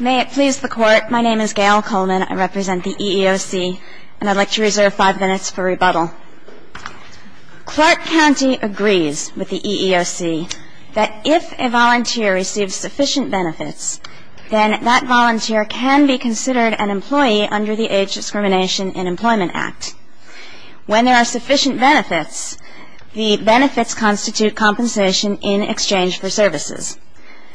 May it please the Court, my name is Gail Coleman, I represent the EEOC, and I'd like to reserve five minutes for rebuttal. Clark County agrees with the EEOC that if a volunteer receives sufficient benefits, then that volunteer can be considered an employee under the Age Discrimination in Employment Act. When there are sufficient benefits, the benefits constitute compensation in exchange for services.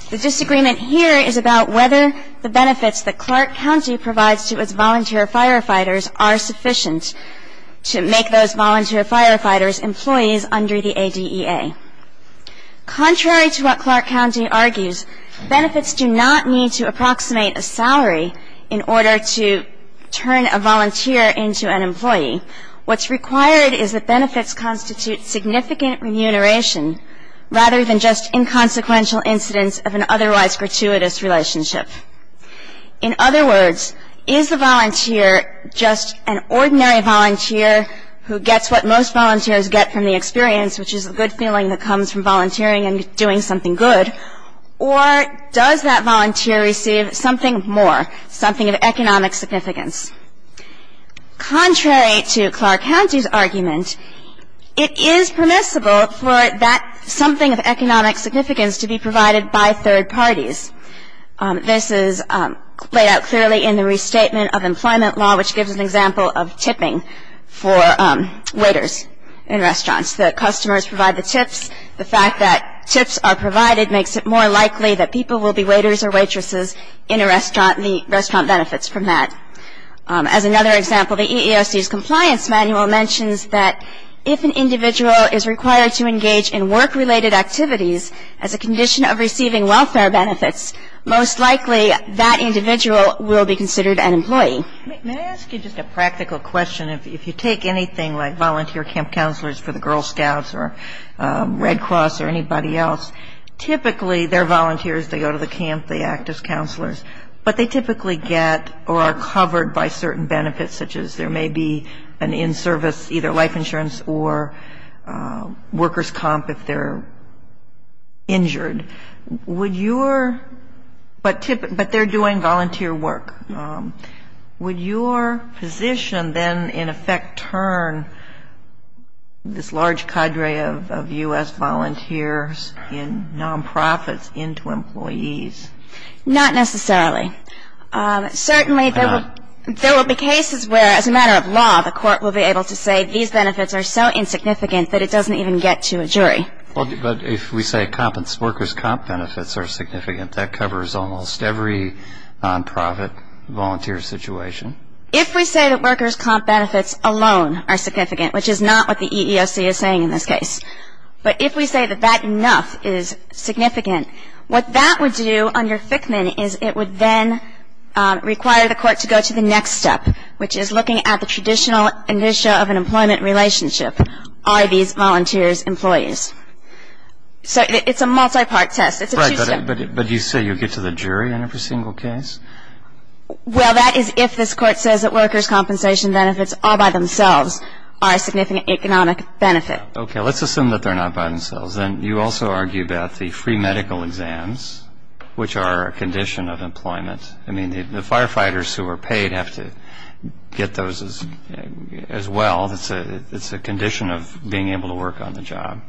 The disagreement here is about whether the benefits that Clark County provides to its volunteer firefighters are sufficient to make those volunteer firefighters employees under the ADEA. Contrary to what Clark County argues, benefits do not need to approximate a salary in order to turn a volunteer into an employee. What's required is that benefits constitute significant remuneration, rather than just inconsequential incidents of an otherwise gratuitous relationship. In other words, is the volunteer just an ordinary volunteer who gets what most volunteers get from the experience, which is a good feeling that comes from volunteering and doing something good, or does that volunteer receive something more, something of economic significance? Contrary to Clark County's argument, it is permissible for something of economic significance to be provided by third parties. This is laid out clearly in the Restatement of Employment Law, which gives an example of tipping for waiters in restaurants. The fact that tips are provided makes it more likely that people will be waiters or waitresses in a restaurant and the restaurant benefits from that. As another example, the EEOC's compliance manual mentions that if an individual is required to engage in work-related activities as a condition of receiving welfare benefits, most likely that individual will be considered an employee. Can I ask you just a practical question? If you take anything like volunteer camp counselors for the Girl Scouts or Red Cross or anybody else, typically they're volunteers, they go to the camp, they act as counselors, but they typically get or are covered by certain benefits, such as there may be an in-service either life insurance or workers' comp if they're injured. But they're doing volunteer work. Would your position then in effect turn this large cadre of U.S. volunteers and nonprofits into employees? Not necessarily. Certainly there will be cases where, as a matter of law, the court will be able to say these benefits are so insignificant that it doesn't even get to a jury. But if we say workers' comp benefits are significant, that covers almost every nonprofit volunteer situation? If we say that workers' comp benefits alone are significant, which is not what the EEOC is saying in this case, but if we say that that enough is significant, what that would do under Fickman is it would then require the court to go to the next step, which is looking at the traditional issue of an employment relationship. Are these volunteers employees? So it's a multi-part test. Right, but you say you get to the jury in every single case? Well, that is if this court says that workers' compensation benefits all by themselves are a significant economic benefit. Okay, let's assume that they're not by themselves. Then you also argue about the free medical exams, which are a condition of employment. I mean, the firefighters who are paid have to get those as well. It's a condition of being able to work on the job.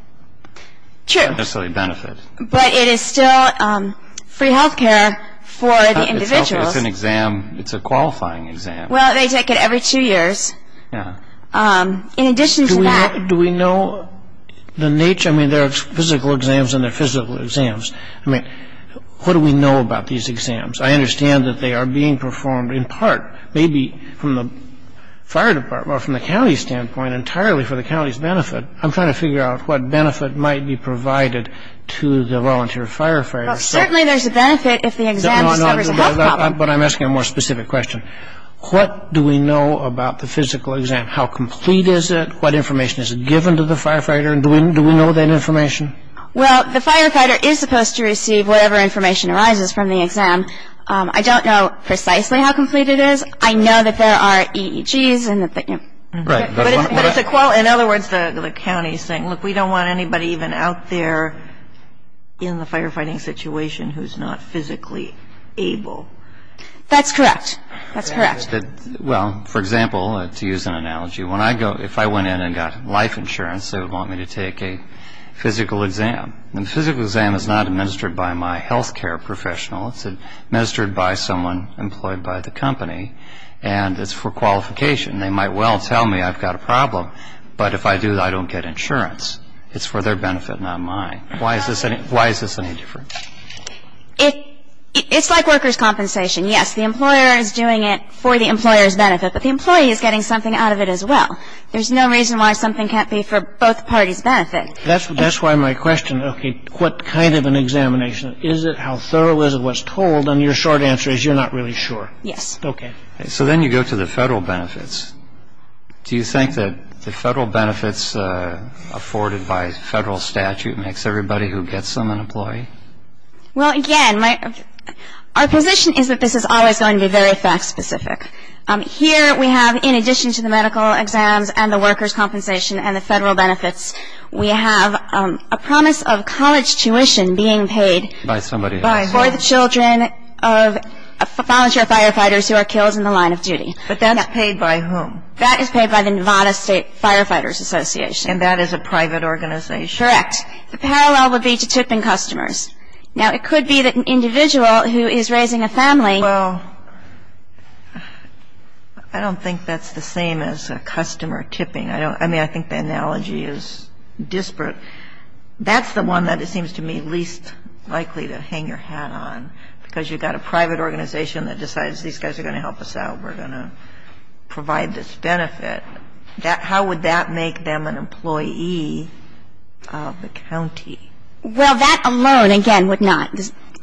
True. Not necessarily benefit. But it is still free health care for the individuals. It's an exam. It's a qualifying exam. Well, they take it every two years. Yeah. In addition to that. Do we know the nature? I mean, there are physical exams and there are physical exams. I mean, what do we know about these exams? I understand that they are being performed in part maybe from the fire department or from the county standpoint entirely for the county's benefit. I'm trying to figure out what benefit might be provided to the volunteer firefighters. Certainly there's a benefit if the exam discovers a health problem. But I'm asking a more specific question. What do we know about the physical exam? How complete is it? What information is it given to the firefighter? And do we know that information? Well, the firefighter is supposed to receive whatever information arises from the exam. I don't know precisely how complete it is. I know that there are EEGs. Right. But it's a quality. In other words, the county is saying, look, we don't want anybody even out there in the firefighting situation who's not physically able. That's correct. That's correct. Well, for example, to use an analogy, if I went in and got life insurance, they would want me to take a physical exam. The physical exam is not administered by my health care professional. It's administered by someone employed by the company. And it's for qualification. They might well tell me I've got a problem, but if I do, I don't get insurance. It's for their benefit, not mine. Why is this any different? It's like workers' compensation. Yes, the employer is doing it for the employer's benefit, but the employee is getting something out of it as well. There's no reason why something can't be for both parties' benefit. That's why my question, okay, what kind of an examination? Is it? How thorough is it? What's told? And your short answer is you're not really sure. Yes. Okay. So then you go to the federal benefits. Do you think that the federal benefits afforded by federal statute makes everybody who gets them an employee? Well, again, our position is that this is always going to be very fact-specific. Here we have, in addition to the medical exams and the workers' compensation and the federal benefits, we have a promise of college tuition being paid for the children of volunteer firefighters who are killed in the line of duty. But that's paid by whom? That is paid by the Nevada State Firefighters Association. And that is a private organization? Correct. The parallel would be to tipping customers. Now, it could be that an individual who is raising a family Well, I don't think that's the same as customer tipping. I mean, I think the analogy is disparate. That's the one that it seems to me least likely to hang your hat on, because you've got a private organization that decides these guys are going to help us out, we're going to provide this benefit. How would that make them an employee of the county? Well, that alone, again, would not.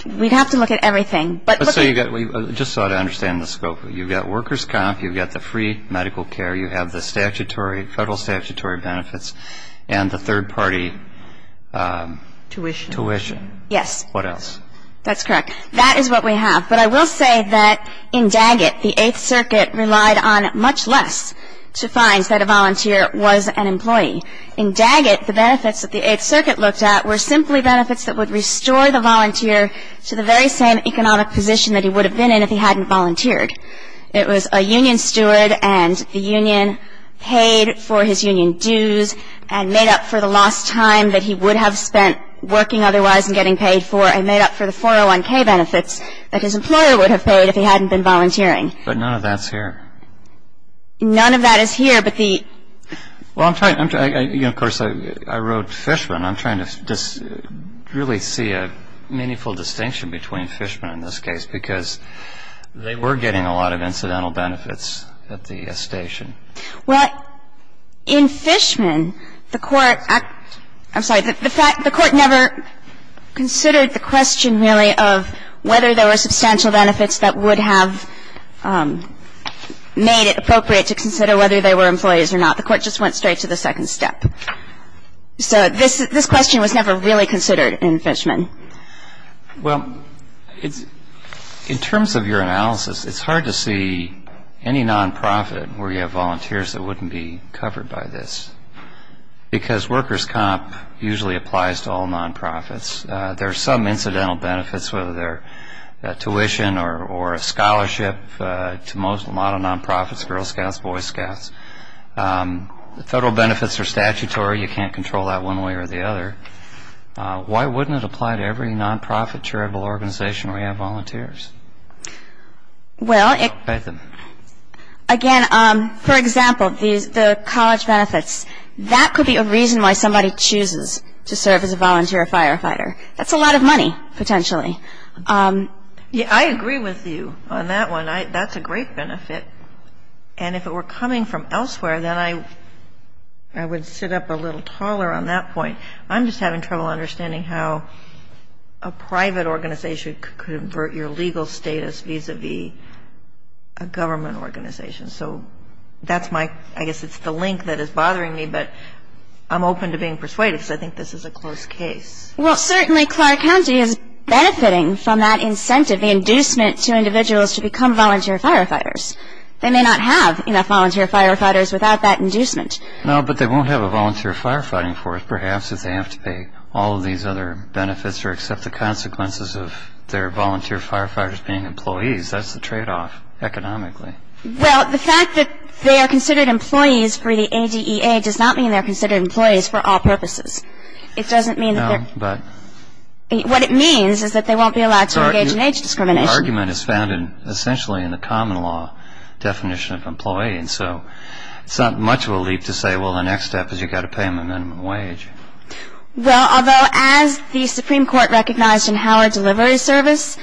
We'd have to look at everything. Just so I understand the scope, you've got workers' comp, you've got the free medical care, you have the federal statutory benefits, and the third-party tuition. Yes. What else? That's correct. That is what we have. But I will say that in Daggett, the Eighth Circuit relied on much less to find that a volunteer was an employee. In Daggett, the benefits that the Eighth Circuit looked at were simply benefits that would restore the volunteer to the very same economic position that he would have been in if he hadn't volunteered. It was a union steward, and the union paid for his union dues, and made up for the lost time that he would have spent working otherwise and getting paid for, and made up for the 401K benefits that his employer would have paid if he hadn't been volunteering. But none of that's here. None of that is here, but the – Well, I'm trying – of course, I wrote Fishman. I'm trying to really see a meaningful distinction between Fishman and this case, because they were getting a lot of incidental benefits at the station. Well, in Fishman, the Court – I'm sorry. The Court never considered the question, really, of whether there were substantial benefits that would have made it appropriate to consider whether they were employees or not. The Court just went straight to the second step. So this question was never really considered in Fishman. Well, in terms of your analysis, it's hard to see any nonprofit where you have volunteers that wouldn't be covered by this, because workers' comp usually applies to all nonprofits. There are some incidental benefits, whether they're tuition or a scholarship, to a lot of nonprofits, Girl Scouts, Boy Scouts. Federal benefits are statutory. You can't control that one way or the other. Why wouldn't it apply to every nonprofit charitable organization where you have volunteers? Well, again, for example, the college benefits, that could be a reason why somebody chooses to serve as a volunteer firefighter. That's a lot of money, potentially. Yeah, I agree with you on that one. That's a great benefit. And if it were coming from elsewhere, then I would sit up a little taller on that point. I'm just having trouble understanding how a private organization could invert your legal status vis-a-vis a government organization. So that's my – I guess it's the link that is bothering me, but I'm open to being persuaded because I think this is a close case. Well, certainly Clark County is benefiting from that incentive, the inducement to individuals to become volunteer firefighters. They may not have enough volunteer firefighters without that inducement. No, but they won't have a volunteer firefighting force, perhaps, if they have to pay all of these other benefits or accept the consequences of their volunteer firefighters being employees. That's the tradeoff economically. Well, the fact that they are considered employees for the ADEA does not mean they're considered employees for all purposes. It doesn't mean that they're – No, but – What it means is that they won't be allowed to engage in age discrimination. Your argument is founded essentially in the common law definition of employee, and so it's not much of a leap to say, well, the next step is you've got to pay them a minimum wage. Well, although as the Supreme Court recognized in Howard Delivery Service,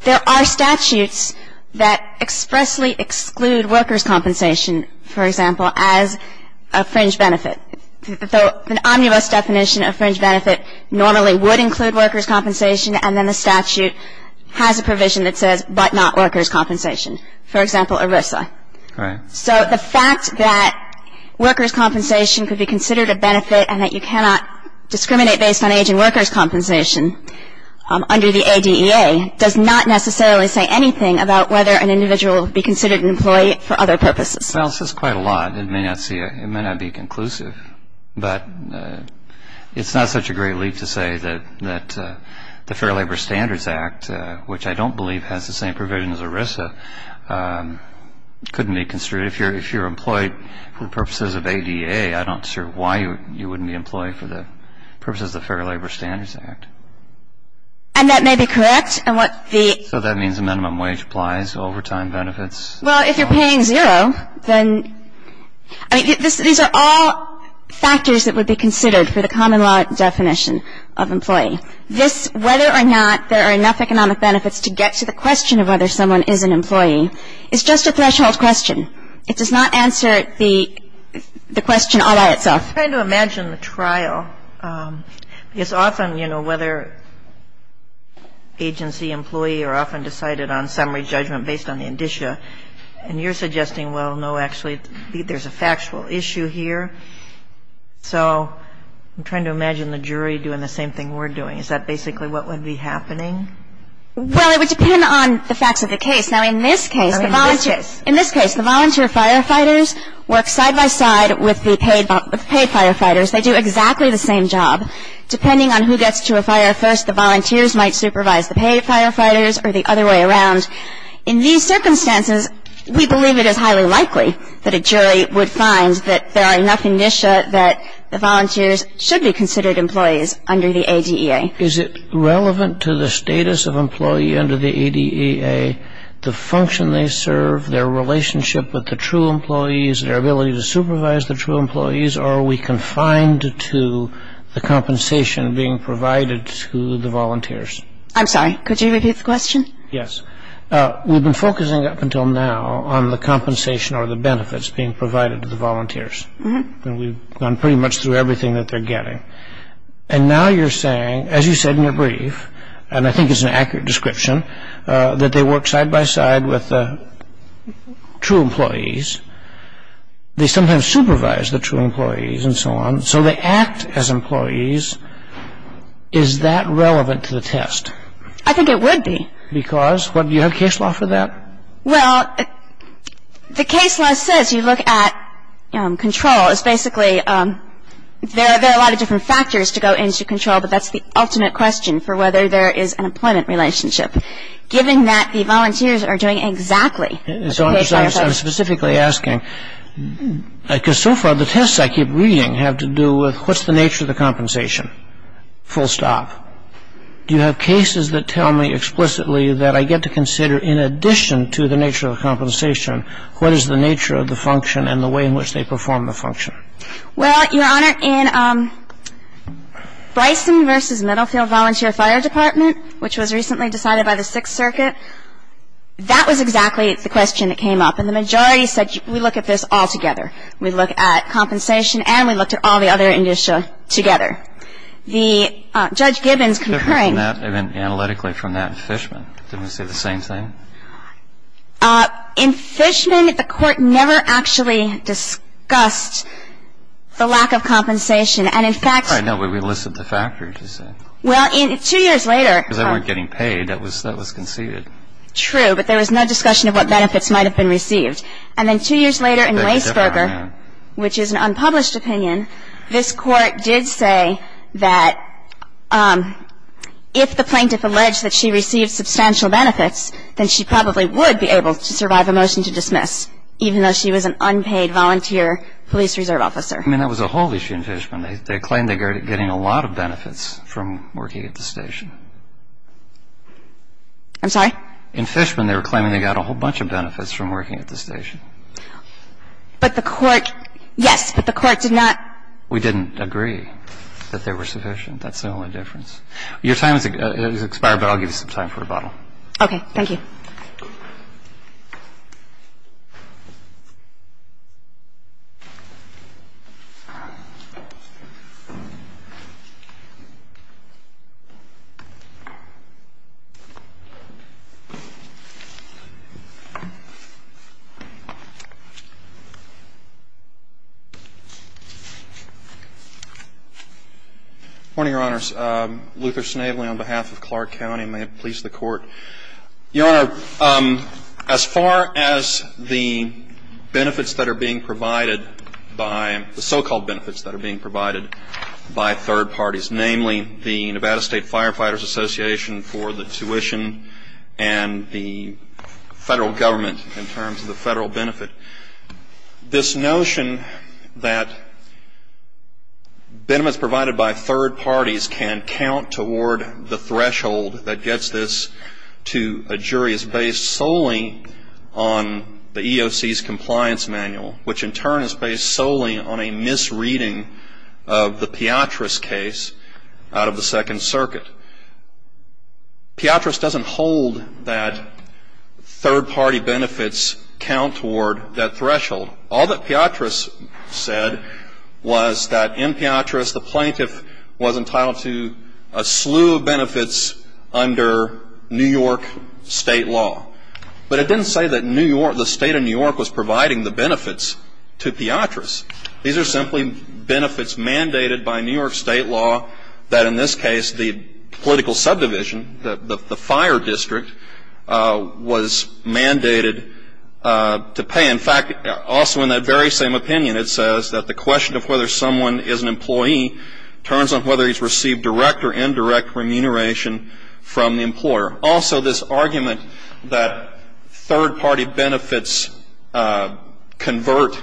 there are statutes that expressly exclude workers' compensation, for example, as a fringe benefit. An omnibus definition of fringe benefit normally would include workers' compensation, and then the statute has a provision that says, but not workers' compensation, for example, ERISA. Right. So the fact that workers' compensation could be considered a benefit and that you cannot discriminate based on age and workers' compensation under the ADEA does not necessarily say anything about whether an individual would be considered an employee for other purposes. Well, it says quite a lot. It may not be conclusive, but it's not such a great leap to say that the Fair Labor Standards Act, which I don't believe has the same provision as ERISA, couldn't be construed. If you're employed for the purposes of ADEA, I'm not sure why you wouldn't be employed for the purposes of the Fair Labor Standards Act. And that may be correct in what the – So that means a minimum wage applies, overtime benefits – Well, if you're paying zero, then – I mean, these are all factors that would be considered for the common law definition of employee. This – whether or not there are enough economic benefits to get to the question of whether someone is an employee is just a threshold question. It does not answer the question all by itself. I'm trying to imagine the trial, because often, you know, whether agency, employee are often decided on summary judgment based on the indicia. And you're suggesting, well, no, actually, there's a factual issue here. So I'm trying to imagine the jury doing the same thing we're doing. Is that basically what would be happening? Well, it would depend on the facts of the case. Now, in this case – In this case. In this case, the volunteer firefighters work side by side with the paid firefighters. They do exactly the same job. Depending on who gets to a fire first, the volunteers might supervise the paid firefighters or the other way around. In these circumstances, we believe it is highly likely that a jury would find that there are enough indicia that the volunteers should be considered employees under the ADEA. Is it relevant to the status of employee under the ADEA, the function they serve, their relationship with the true employees, their ability to supervise the true employees, or are we confined to the compensation being provided to the volunteers? I'm sorry, could you repeat the question? Yes. We've been focusing up until now on the compensation or the benefits being provided to the volunteers. And we've gone pretty much through everything that they're getting. And now you're saying, as you said in your brief, and I think it's an accurate description, that they work side by side with the true employees. They sometimes supervise the true employees and so on. So they act as employees. Is that relevant to the test? I think it would be. Because? Do you have case law for that? Well, the case law says you look at control. It's basically there are a lot of different factors to go into control, but that's the ultimate question for whether there is an employment relationship, given that the volunteers are doing exactly what the paid firefighters are doing. I'm specifically asking, because so far the tests I keep reading have to do with, what's the nature of the compensation? Full stop. Do you have cases that tell me explicitly that I get to consider, in addition to the nature of the compensation, what is the nature of the function and the way in which they perform the function? Well, Your Honor, in Bryson v. Middlefield Volunteer Fire Department, which was recently decided by the Sixth Circuit, that was exactly the question that came up. And the majority said, we look at this all together. We look at compensation and we looked at all the other initia together. The Judge Gibbons concurring. Different from that analytically from that in Fishman. Didn't they say the same thing? In Fishman, the Court never actually discussed the lack of compensation. And in fact. I know, but we listed the factors. Well, two years later. Because they weren't getting paid, that was conceded. True, but there was no discussion of what benefits might have been received. And then two years later in Weisberger, which is an unpublished opinion, this Court did say that if the plaintiff alleged that she received substantial benefits, then she probably would be able to survive a motion to dismiss, even though she was an unpaid volunteer police reserve officer. I mean, that was a whole issue in Fishman. They claimed they were getting a lot of benefits from working at the station. I'm sorry? In Fishman, they were claiming they got a whole bunch of benefits from working at the station. But the Court, yes, but the Court did not. We didn't agree that they were sufficient. That's the only difference. Your time has expired, but I'll give you some time for rebuttal. Okay, thank you. Good morning, Your Honors. Luther Snavely on behalf of Clark County. May it please the Court. Your Honor, as far as the benefits that are being provided by the so-called benefits third parties, namely the Nevada State Firefighters Association for the tuition and the federal government in terms of the federal benefit, this notion that benefits provided by third parties can count toward the threshold that gets this to a jury is based solely on the EOC's compliance manual, which in turn is based solely on a misreading of the Piotras case out of the Second Circuit. Piotras doesn't hold that third-party benefits count toward that threshold. All that Piotras said was that in Piotras the plaintiff was entitled to a slew of benefits under New York state law. But it didn't say that the state of New York was providing the benefits to Piotras. These are simply benefits mandated by New York state law that in this case the political subdivision, the fire district, was mandated to pay. In fact, also in that very same opinion it says that the question of whether someone is an employee turns on whether he's received direct or indirect remuneration from the employer. Also, this argument that third-party benefits convert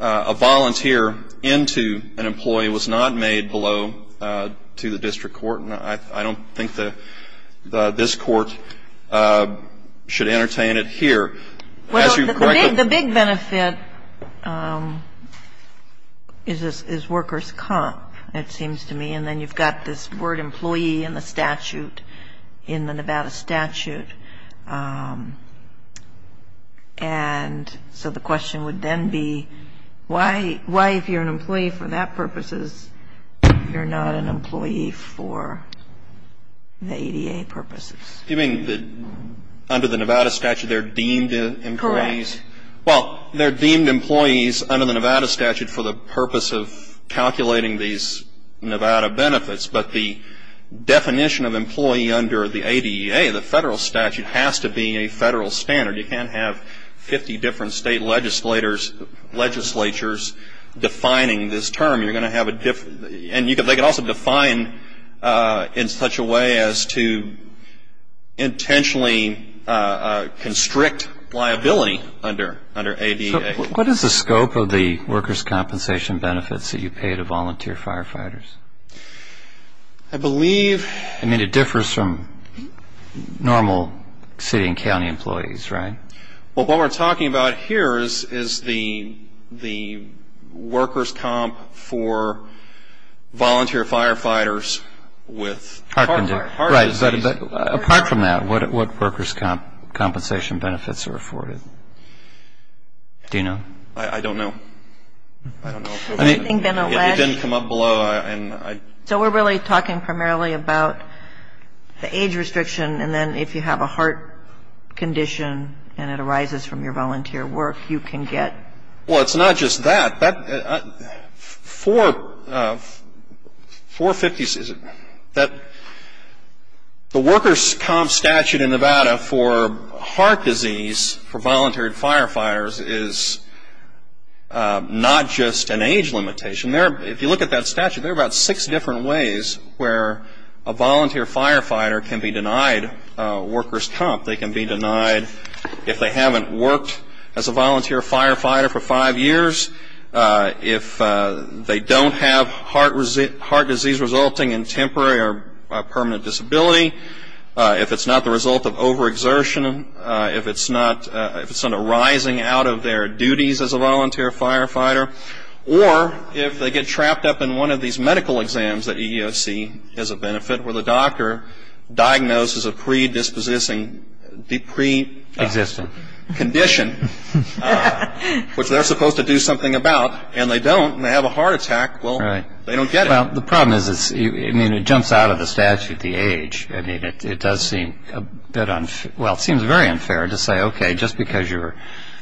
a volunteer into an employee was not made below to the district court. And I don't think that this Court should entertain it here. As you correctly ---- The big benefit is workers' comp, it seems to me. And then you've got this word employee in the statute, in the Nevada statute. And so the question would then be why, if you're an employee for that purposes, you're not an employee for the ADA purposes? You mean that under the Nevada statute they're deemed employees? Correct. Well, they're deemed employees under the Nevada statute for the purpose of calculating these Nevada benefits. But the definition of employee under the ADA, the federal statute, has to be a federal standard. You can't have 50 different state legislatures defining this term. You're going to have a different ---- And they can also define in such a way as to intentionally constrict liability under ADA. What is the scope of the workers' compensation benefits that you pay to volunteer firefighters? I believe ---- I mean, it differs from normal city and county employees, right? Well, what we're talking about here is the workers' comp for volunteer firefighters with ---- Apart from that, what workers' compensation benefits are afforded? Do you know? I don't know. I don't know. Has anything been alleged? It didn't come up below. So we're really talking primarily about the age restriction and then if you have a heart condition and it arises from your volunteer work, you can get ---- Well, it's not just that. Four ---- The workers' comp statute in Nevada for heart disease for volunteer firefighters is not just an age limitation. If you look at that statute, there are about six different ways where a volunteer firefighter can be denied workers' comp. They can be denied if they haven't worked as a volunteer firefighter for five years, if they don't have heart disease resulting in temporary or permanent disability, if it's not the result of overexertion, if it's not arising out of their duties as a volunteer firefighter, or if they get trapped up in one of these medical exams that you see as a benefit where the doctor diagnoses a predisposing condition which they're supposed to do something about and they don't and they have a heart attack, well, they don't get it. Well, the problem is it jumps out of the statute, the age. It does seem a bit unfair. Well, it seems very unfair to say, okay, just because you're,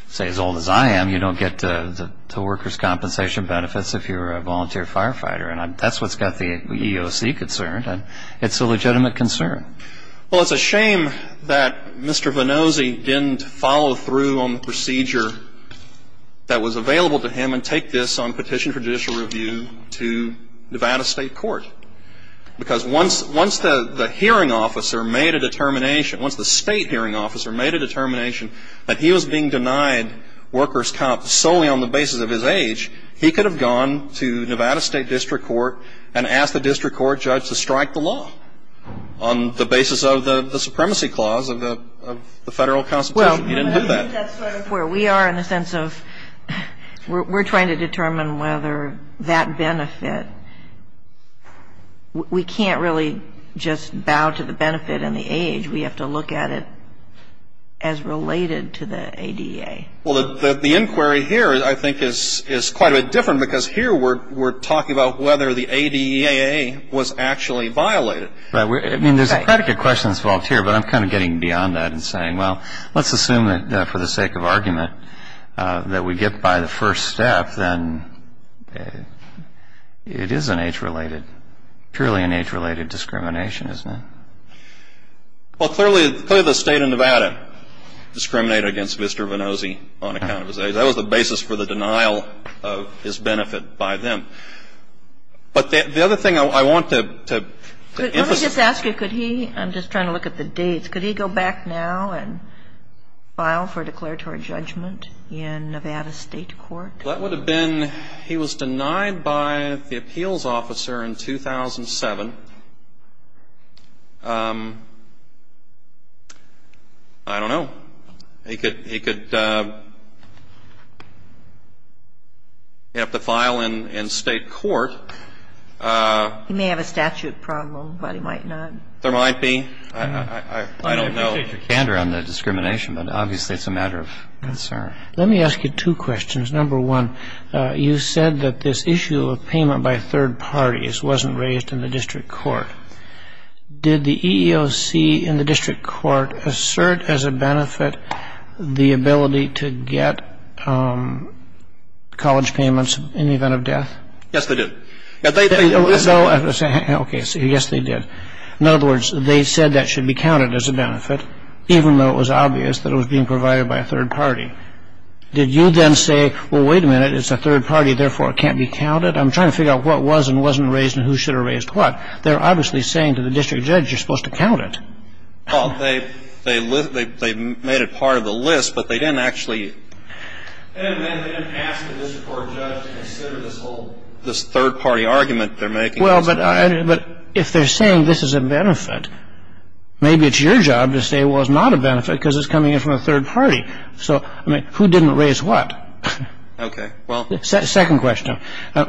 say, as old as I am, you don't get the workers' compensation benefits if you're a volunteer firefighter. And that's what's got the EEOC concerned. It's a legitimate concern. Well, it's a shame that Mr. Vannosi didn't follow through on the procedure that was available to him and take this on petition for judicial review to Nevada State Court. Because once the hearing officer made a determination, once the state hearing officer made a determination that he was being denied workers' comp solely on the basis of his age, he could have gone to Nevada State District Court and asked the district court judge to strike the law on the basis of the supremacy clause of the Federal Constitution. He didn't do that. Well, I think that's sort of where we are in the sense of we're trying to determine whether that benefit, we can't really just bow to the benefit and the age. We have to look at it as related to the ADA. Well, the inquiry here, I think, is quite a bit different because here we're talking about whether the ADAA was actually violated. Right. I mean, there's a predicate question involved here, but I'm kind of getting beyond that and saying, well, let's assume that for the sake of argument that we get by the first step, then it is an age-related, purely an age-related discrimination, isn't it? Well, clearly the State of Nevada discriminated against Mr. Vannozzi on account of his age. That was the basis for the denial of his benefit by them. But the other thing I want to emphasize. Let me just ask you, could he, I'm just trying to look at the dates, could he go back now and file for declaratory judgment in Nevada State Court? That would have been, he was denied by the appeals officer in 2007. I don't know. He could have to file in State Court. He may have a statute problem, but he might not. There might be. I don't know. I appreciate your candor on the discrimination, but obviously it's a matter of concern. Let me ask you two questions. Number one, you said that this issue of payment by third parties wasn't raised in the district court. Did the EEOC in the district court assert as a benefit the ability to get college payments in the event of death? Yes, they did. Okay. Yes, they did. And they didn't say that it was a benefit, even though it was obvious that it was being provided by a third party. Did you then say, well, wait a minute, it's a third party, therefore it can't be counted? I'm trying to figure out what was and wasn't raised and who should have raised what. They're obviously saying to the district judge you're supposed to count it. Well, they made it part of the list, but they didn't actually. They didn't ask the district court judge to consider this whole, this third party argument they're making. Well, but if they're saying this is a benefit, maybe it's your job to say, well, it's not a benefit because it's coming in from a third party. So, I mean, who didn't raise what? Okay. Well. Second question.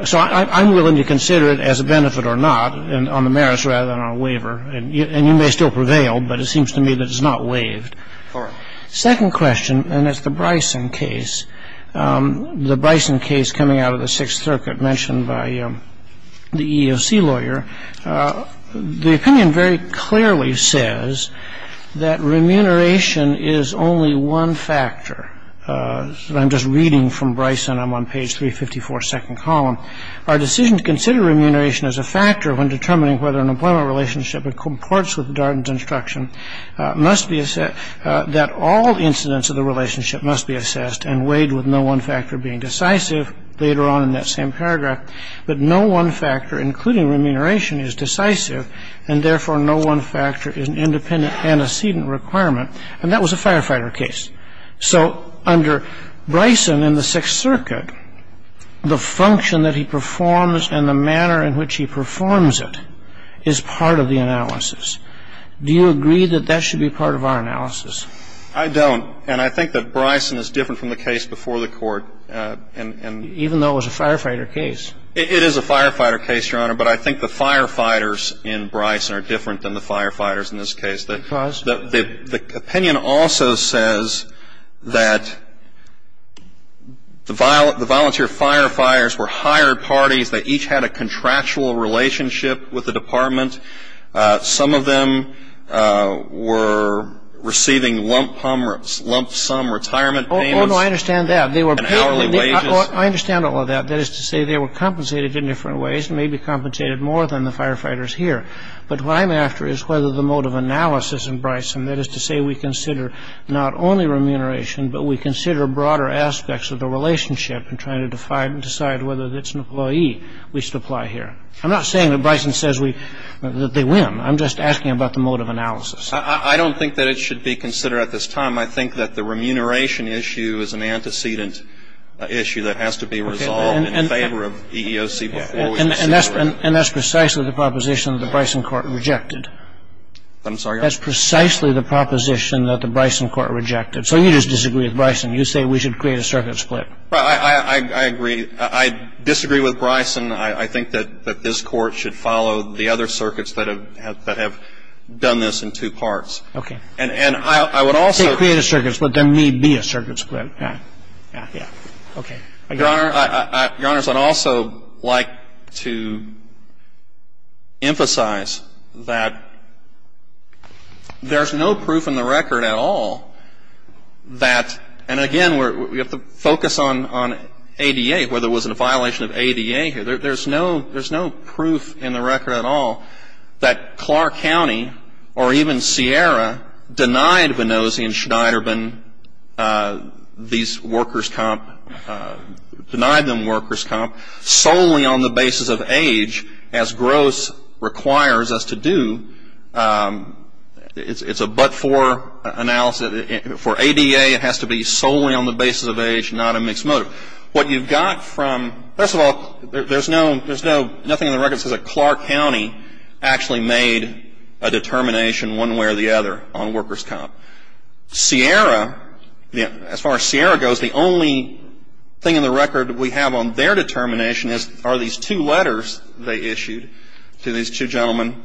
So I'm willing to consider it as a benefit or not on the merits rather than on a waiver. And you may still prevail, but it seems to me that it's not waived. All right. Second question, and it's the Bryson case, the Bryson case coming out of the Sixth Circuit mentioned by the EEOC lawyer. The opinion very clearly says that remuneration is only one factor. I'm just reading from Bryson. I'm on page 354, second column. Our decision to consider remuneration as a factor when determining whether an employment relationship and comports with Darden's instruction that all incidents of the relationship must be assessed and weighed with no one factor being decisive later on in that same paragraph. But no one factor, including remuneration, is decisive, and therefore no one factor is an independent antecedent requirement. And that was a firefighter case. So under Bryson in the Sixth Circuit, the function that he performs and the manner in which he performs it is part of the analysis. Do you agree that that should be part of our analysis? I don't. And I think that Bryson is different from the case before the Court. Even though it was a firefighter case. It is a firefighter case, Your Honor. But I think the firefighters in Bryson are different than the firefighters in this case. Because? The opinion also says that the volunteer firefighters were hired parties. They each had a contractual relationship with the department. Some of them were receiving lump sum retirement payments. Oh, no, I understand that. And hourly wages. I understand all of that. That is to say they were compensated in different ways, maybe compensated more than the firefighters here. But what I'm after is whether the mode of analysis in Bryson, that is to say we consider not only remuneration, but we consider broader aspects of the relationship in trying to decide whether it's an employee we should apply here. I'm not saying that Bryson says that they win. I'm just asking about the mode of analysis. I don't think that it should be considered at this time. I think that the remuneration issue is an antecedent issue that has to be resolved in favor of EEOC before we consider it. And that's precisely the proposition that the Bryson court rejected. I'm sorry? That's precisely the proposition that the Bryson court rejected. So you just disagree with Bryson. You say we should create a circuit split. I agree. I disagree with Bryson. I think that this Court should follow the other circuits that have done this in two parts. Okay. And I would also ---- Create a circuit split. There may be a circuit split. Yeah. Yeah. Okay. Your Honor, I'd also like to emphasize that there's no proof in the record at all that ---- and, again, we have to focus on ADA, whether it was in a violation of ADA here. There's no proof in the record at all that Clark County or even Sierra denied Vinozzi and Schneiderban these workers' comp, denied them workers' comp solely on the basis of age, as gross requires us to do. It's a but-for analysis. For ADA, it has to be solely on the basis of age, not a mixed motive. What you've got from ---- first of all, there's nothing in the record that says that Clark County actually made a determination one way or the other on workers' comp. Sierra, as far as Sierra goes, the only thing in the record we have on their determination is, are these two letters they issued to these two gentlemen,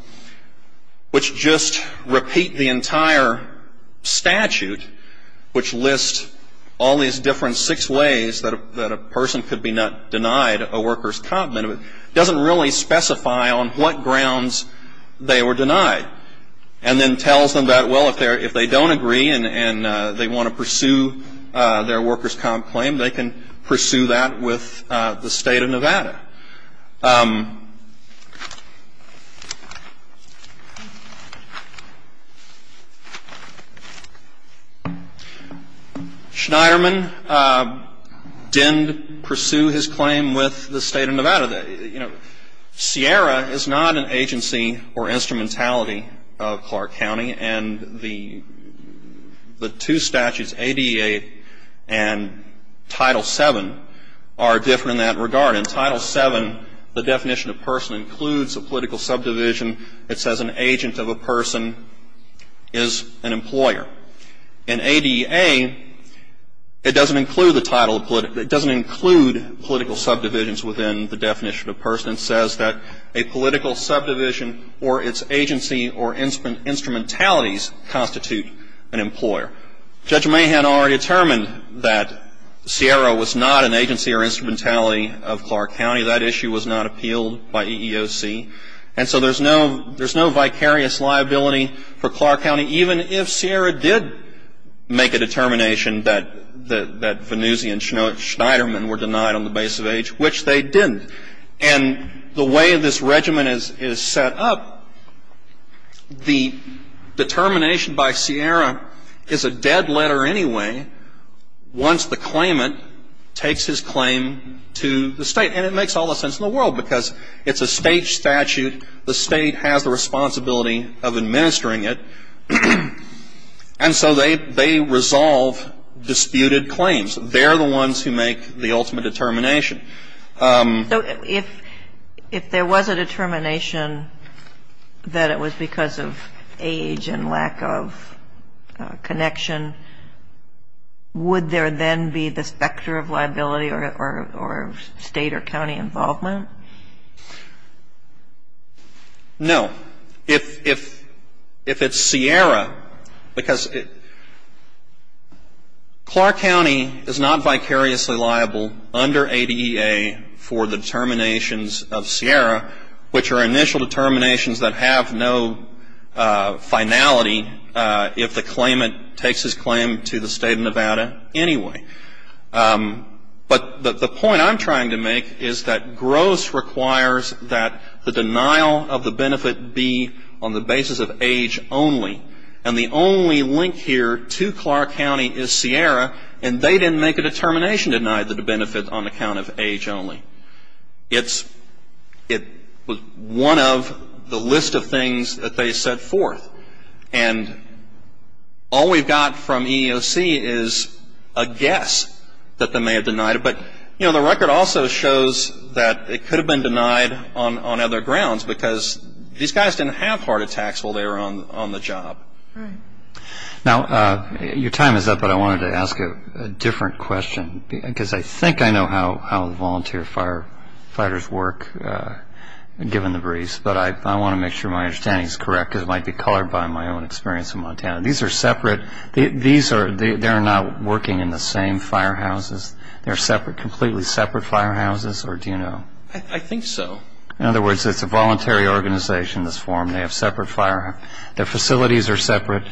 which just repeat the entire statute, which lists all these different six ways that a person could be not denied a workers' comp, and it doesn't really specify on what grounds they were denied, and then tells them that, well, if they don't agree and they want to pursue their workers' comp claim, they can pursue that with the State of Nevada. Schneiderman didn't pursue his claim with the State of Nevada. You know, Sierra is not an agency or instrumentality of Clark County, and the two statutes, ADA and Title VII, are different in that regard. In Title VII, the definition of person includes a political subdivision that says an agent of a person is an employer. In ADA, it doesn't include the title of ---- it doesn't include political subdivisions within the definition of person. It says that a political subdivision or its agency or instrumentalities constitute an employer. Judge Mahan already determined that Sierra was not an agency or instrumentality of Clark County. That issue was not appealed by EEOC. And so there's no vicarious liability for Clark County, even if Sierra did make a determination that Vannuzzi and Schneiderman were denied on the basis of age, which they didn't. And the way this regimen is set up, the determination by Sierra is a dead letter anyway, once the claimant takes his claim to the State. And it makes all the sense in the world because it's a State statute. The State has the responsibility of administering it. And so they resolve disputed claims. They're the ones who make the ultimate determination. So if there was a determination that it was because of age and lack of connection, would there then be the specter of liability or State or county involvement? No. If it's Sierra, because Clark County is not vicariously liable under ADEA for the determinations of Sierra, which are initial determinations that have no finality if the claimant takes his claim to the State of Nevada anyway. But the point I'm trying to make is that GROSS requires that the denial of the benefit be on the basis of age only. And the only link here to Clark County is Sierra, and they didn't make a determination to deny the benefit on account of age only. It was one of the list of things that they set forth. And all we've got from EEOC is a guess that they may have denied it. But, you know, the record also shows that it could have been denied on other grounds because these guys didn't have heart attacks while they were on the job. Now, your time is up, but I wanted to ask a different question because I think I know how the volunteer firefighters work, given the briefs. But I want to make sure my understanding is correct because it might be colored by my own experience in Montana. These are separate. They're not working in the same firehouses. They're completely separate firehouses, or do you know? I think so. In other words, it's a voluntary organization that's formed. They have separate firehouses. Their facilities are separate.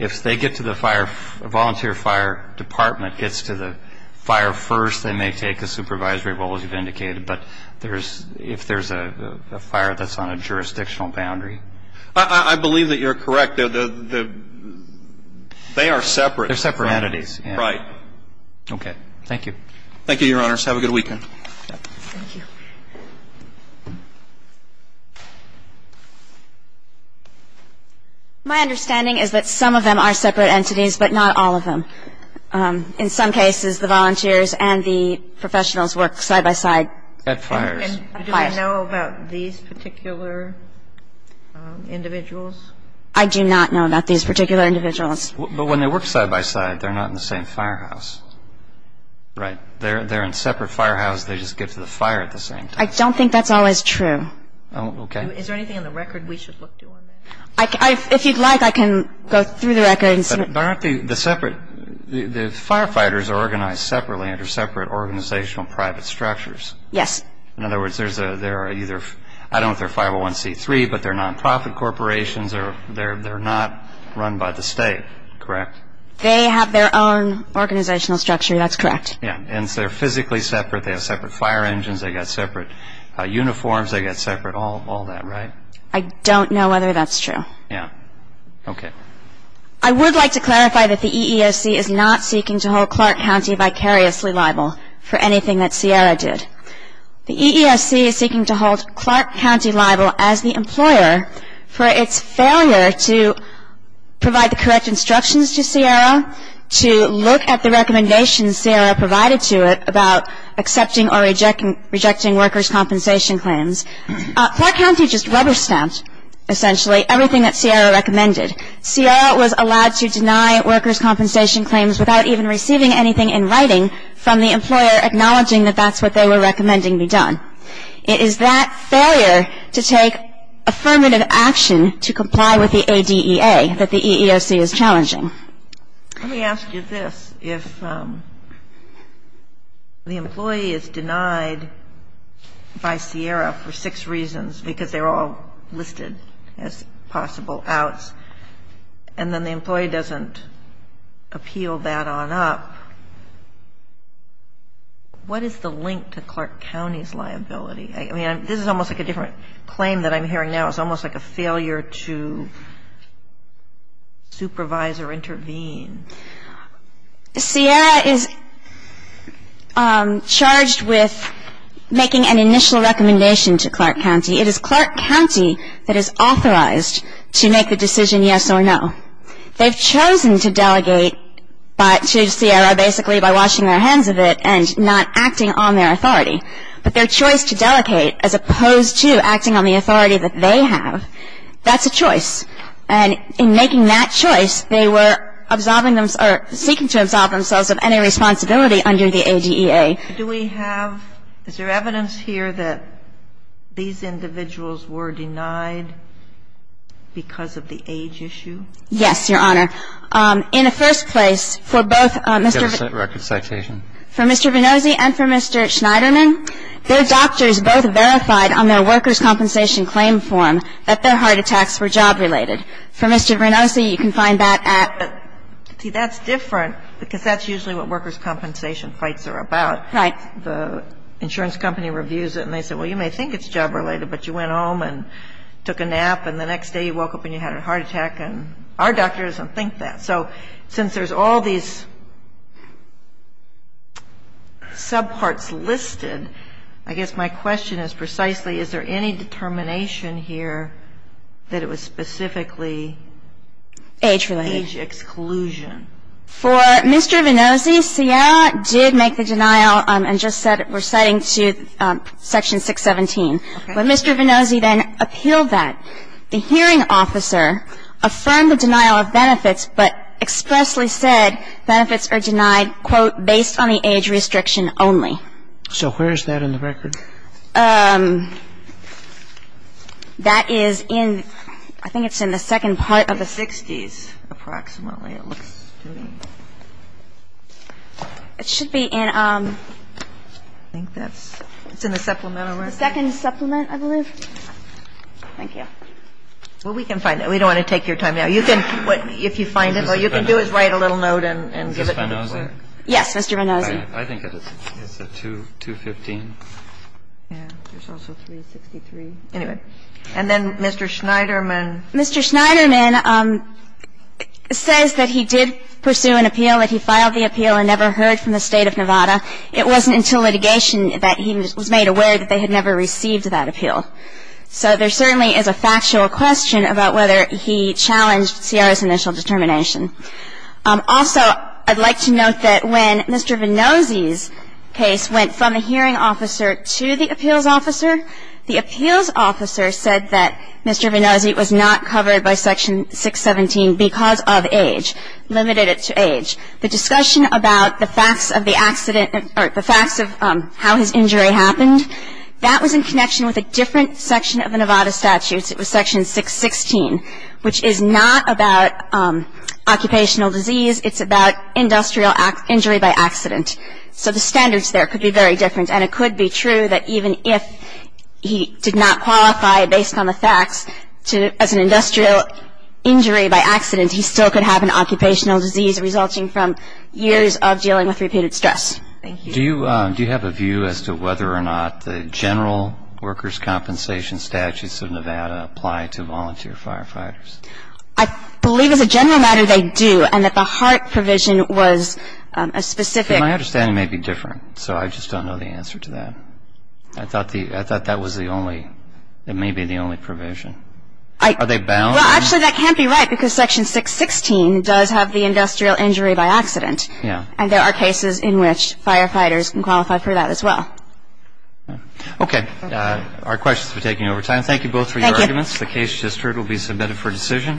If a volunteer fire department gets to the fire first, they may take a supervisory role, as you've indicated. But if there's a fire that's on a jurisdictional boundary? I believe that you're correct. They are separate. They're separate entities. Right. Okay. Thank you. Thank you, Your Honors. Have a good weekend. Thank you. My understanding is that some of them are separate entities, but not all of them. In some cases, the volunteers and the professionals work side by side. At fires. Do you know about these particular individuals? I do not know about these particular individuals. But when they work side by side, they're not in the same firehouse. Right. They're in separate firehouses. They just get to the fire at the same time. I don't think that's always true. Okay. Is there anything in the record we should look to on that? If you'd like, I can go through the records. But aren't the firefighters organized separately under separate organizational private structures? Yes. In other words, I don't know if they're 501C3, but they're nonprofit corporations. They're not run by the state, correct? They have their own organizational structure. That's correct. Yeah. And they're physically separate. They have separate fire engines. They've got separate uniforms. They've got separate all that, right? I don't know whether that's true. Yeah. Okay. I would like to clarify that the EEOC is not seeking to hold Clark County vicariously liable for anything that CIARA did. The EEOC is seeking to hold Clark County liable as the employer for its failure to provide the correct instructions to CIARA, to look at the recommendations CIARA provided to it about accepting or rejecting workers' compensation claims. Clark County just rubber-stamped, essentially, everything that CIARA recommended. CIARA was allowed to deny workers' compensation claims without even receiving anything in writing from the employer acknowledging that that's what they were recommending be done. It is that failure to take affirmative action to comply with the ADEA that the EEOC is challenging. Let me ask you this. If the employee is denied by CIARA for six reasons because they're all listed as possible outs, and then the employee doesn't appeal that on up, what is the link to Clark County's liability? I mean, this is almost like a different claim that I'm hearing now. It's almost like a failure to supervise or intervene. CIARA is charged with making an initial recommendation to Clark County. It is Clark County that is authorized to make the decision yes or no. They've chosen to delegate to CIARA basically by washing their hands of it and not acting on their authority. But their choice to delegate as opposed to acting on the authority that they have, that's a choice. And in making that choice, they were absolving themselves or seeking to absolve themselves of any responsibility under the ADEA. Do we have – is there evidence here that these individuals were denied because of the age issue? Yes, Your Honor. In the first place, for both Mr. Venozzi and for Mr. Schneiderman, their doctors both verified on their workers' compensation claim form that their heart attacks were job-related. For Mr. Venozzi, you can find that at – See, that's different because that's usually what workers' compensation fights are about. Right. The insurance company reviews it, and they say, well, you may think it's job-related, but you went home and took a nap, and the next day you woke up and you had a heart attack, and our doctor doesn't think that. And so since there's all these subparts listed, I guess my question is precisely, is there any determination here that it was specifically age-related? Age exclusion. For Mr. Venozzi, Seattle did make the denial and just said – we're citing to Section 617. When Mr. Venozzi then appealed that, the hearing officer affirmed the denial of benefits, but expressly said benefits are denied, quote, based on the age restriction only. So where is that in the record? That is in – I think it's in the second part of the 60s, approximately. It looks to me. It should be in – I think that's – it's in the supplemental record. The second supplement, I believe. Thank you. Well, we can find it. We don't want to take your time now. You can – if you find it, all you can do is write a little note and give it to me. Is this Venozzi? Yes, Mr. Venozzi. I think it's a 215. Yeah. There's also 363. Anyway. And then Mr. Schneiderman. Mr. Schneiderman says that he did pursue an appeal, that he filed the appeal and never heard from the State of Nevada. It wasn't until litigation that he was made aware that they had never received that appeal. So there certainly is a factual question about whether he challenged CRS initial determination. Also, I'd like to note that when Mr. Venozzi's case went from the hearing officer to the appeals officer, the appeals officer said that Mr. Venozzi was not covered by Section 617 because of age, limited it to age. The discussion about the facts of the accident – or the facts of how his injury happened – that was in connection with a different section of the Nevada statutes. It was Section 616, which is not about occupational disease. It's about industrial injury by accident. So the standards there could be very different. And it could be true that even if he did not qualify based on the facts as an industrial injury by accident, he still could have an occupational disease resulting from years of dealing with repeated stress. Thank you. Do you have a view as to whether or not the general workers' compensation statutes of Nevada apply to volunteer firefighters? I believe as a general matter they do, and that the HART provision was a specific My understanding may be different, so I just don't know the answer to that. I thought that was the only – it may be the only provision. Are they bound? Well, actually, that can't be right because Section 616 does have the industrial injury by accident. Yeah. And there are cases in which firefighters can qualify for that as well. Okay. Our questions are taking over time. Thank you both for your arguments. Thank you. The case just heard will be submitted for decision.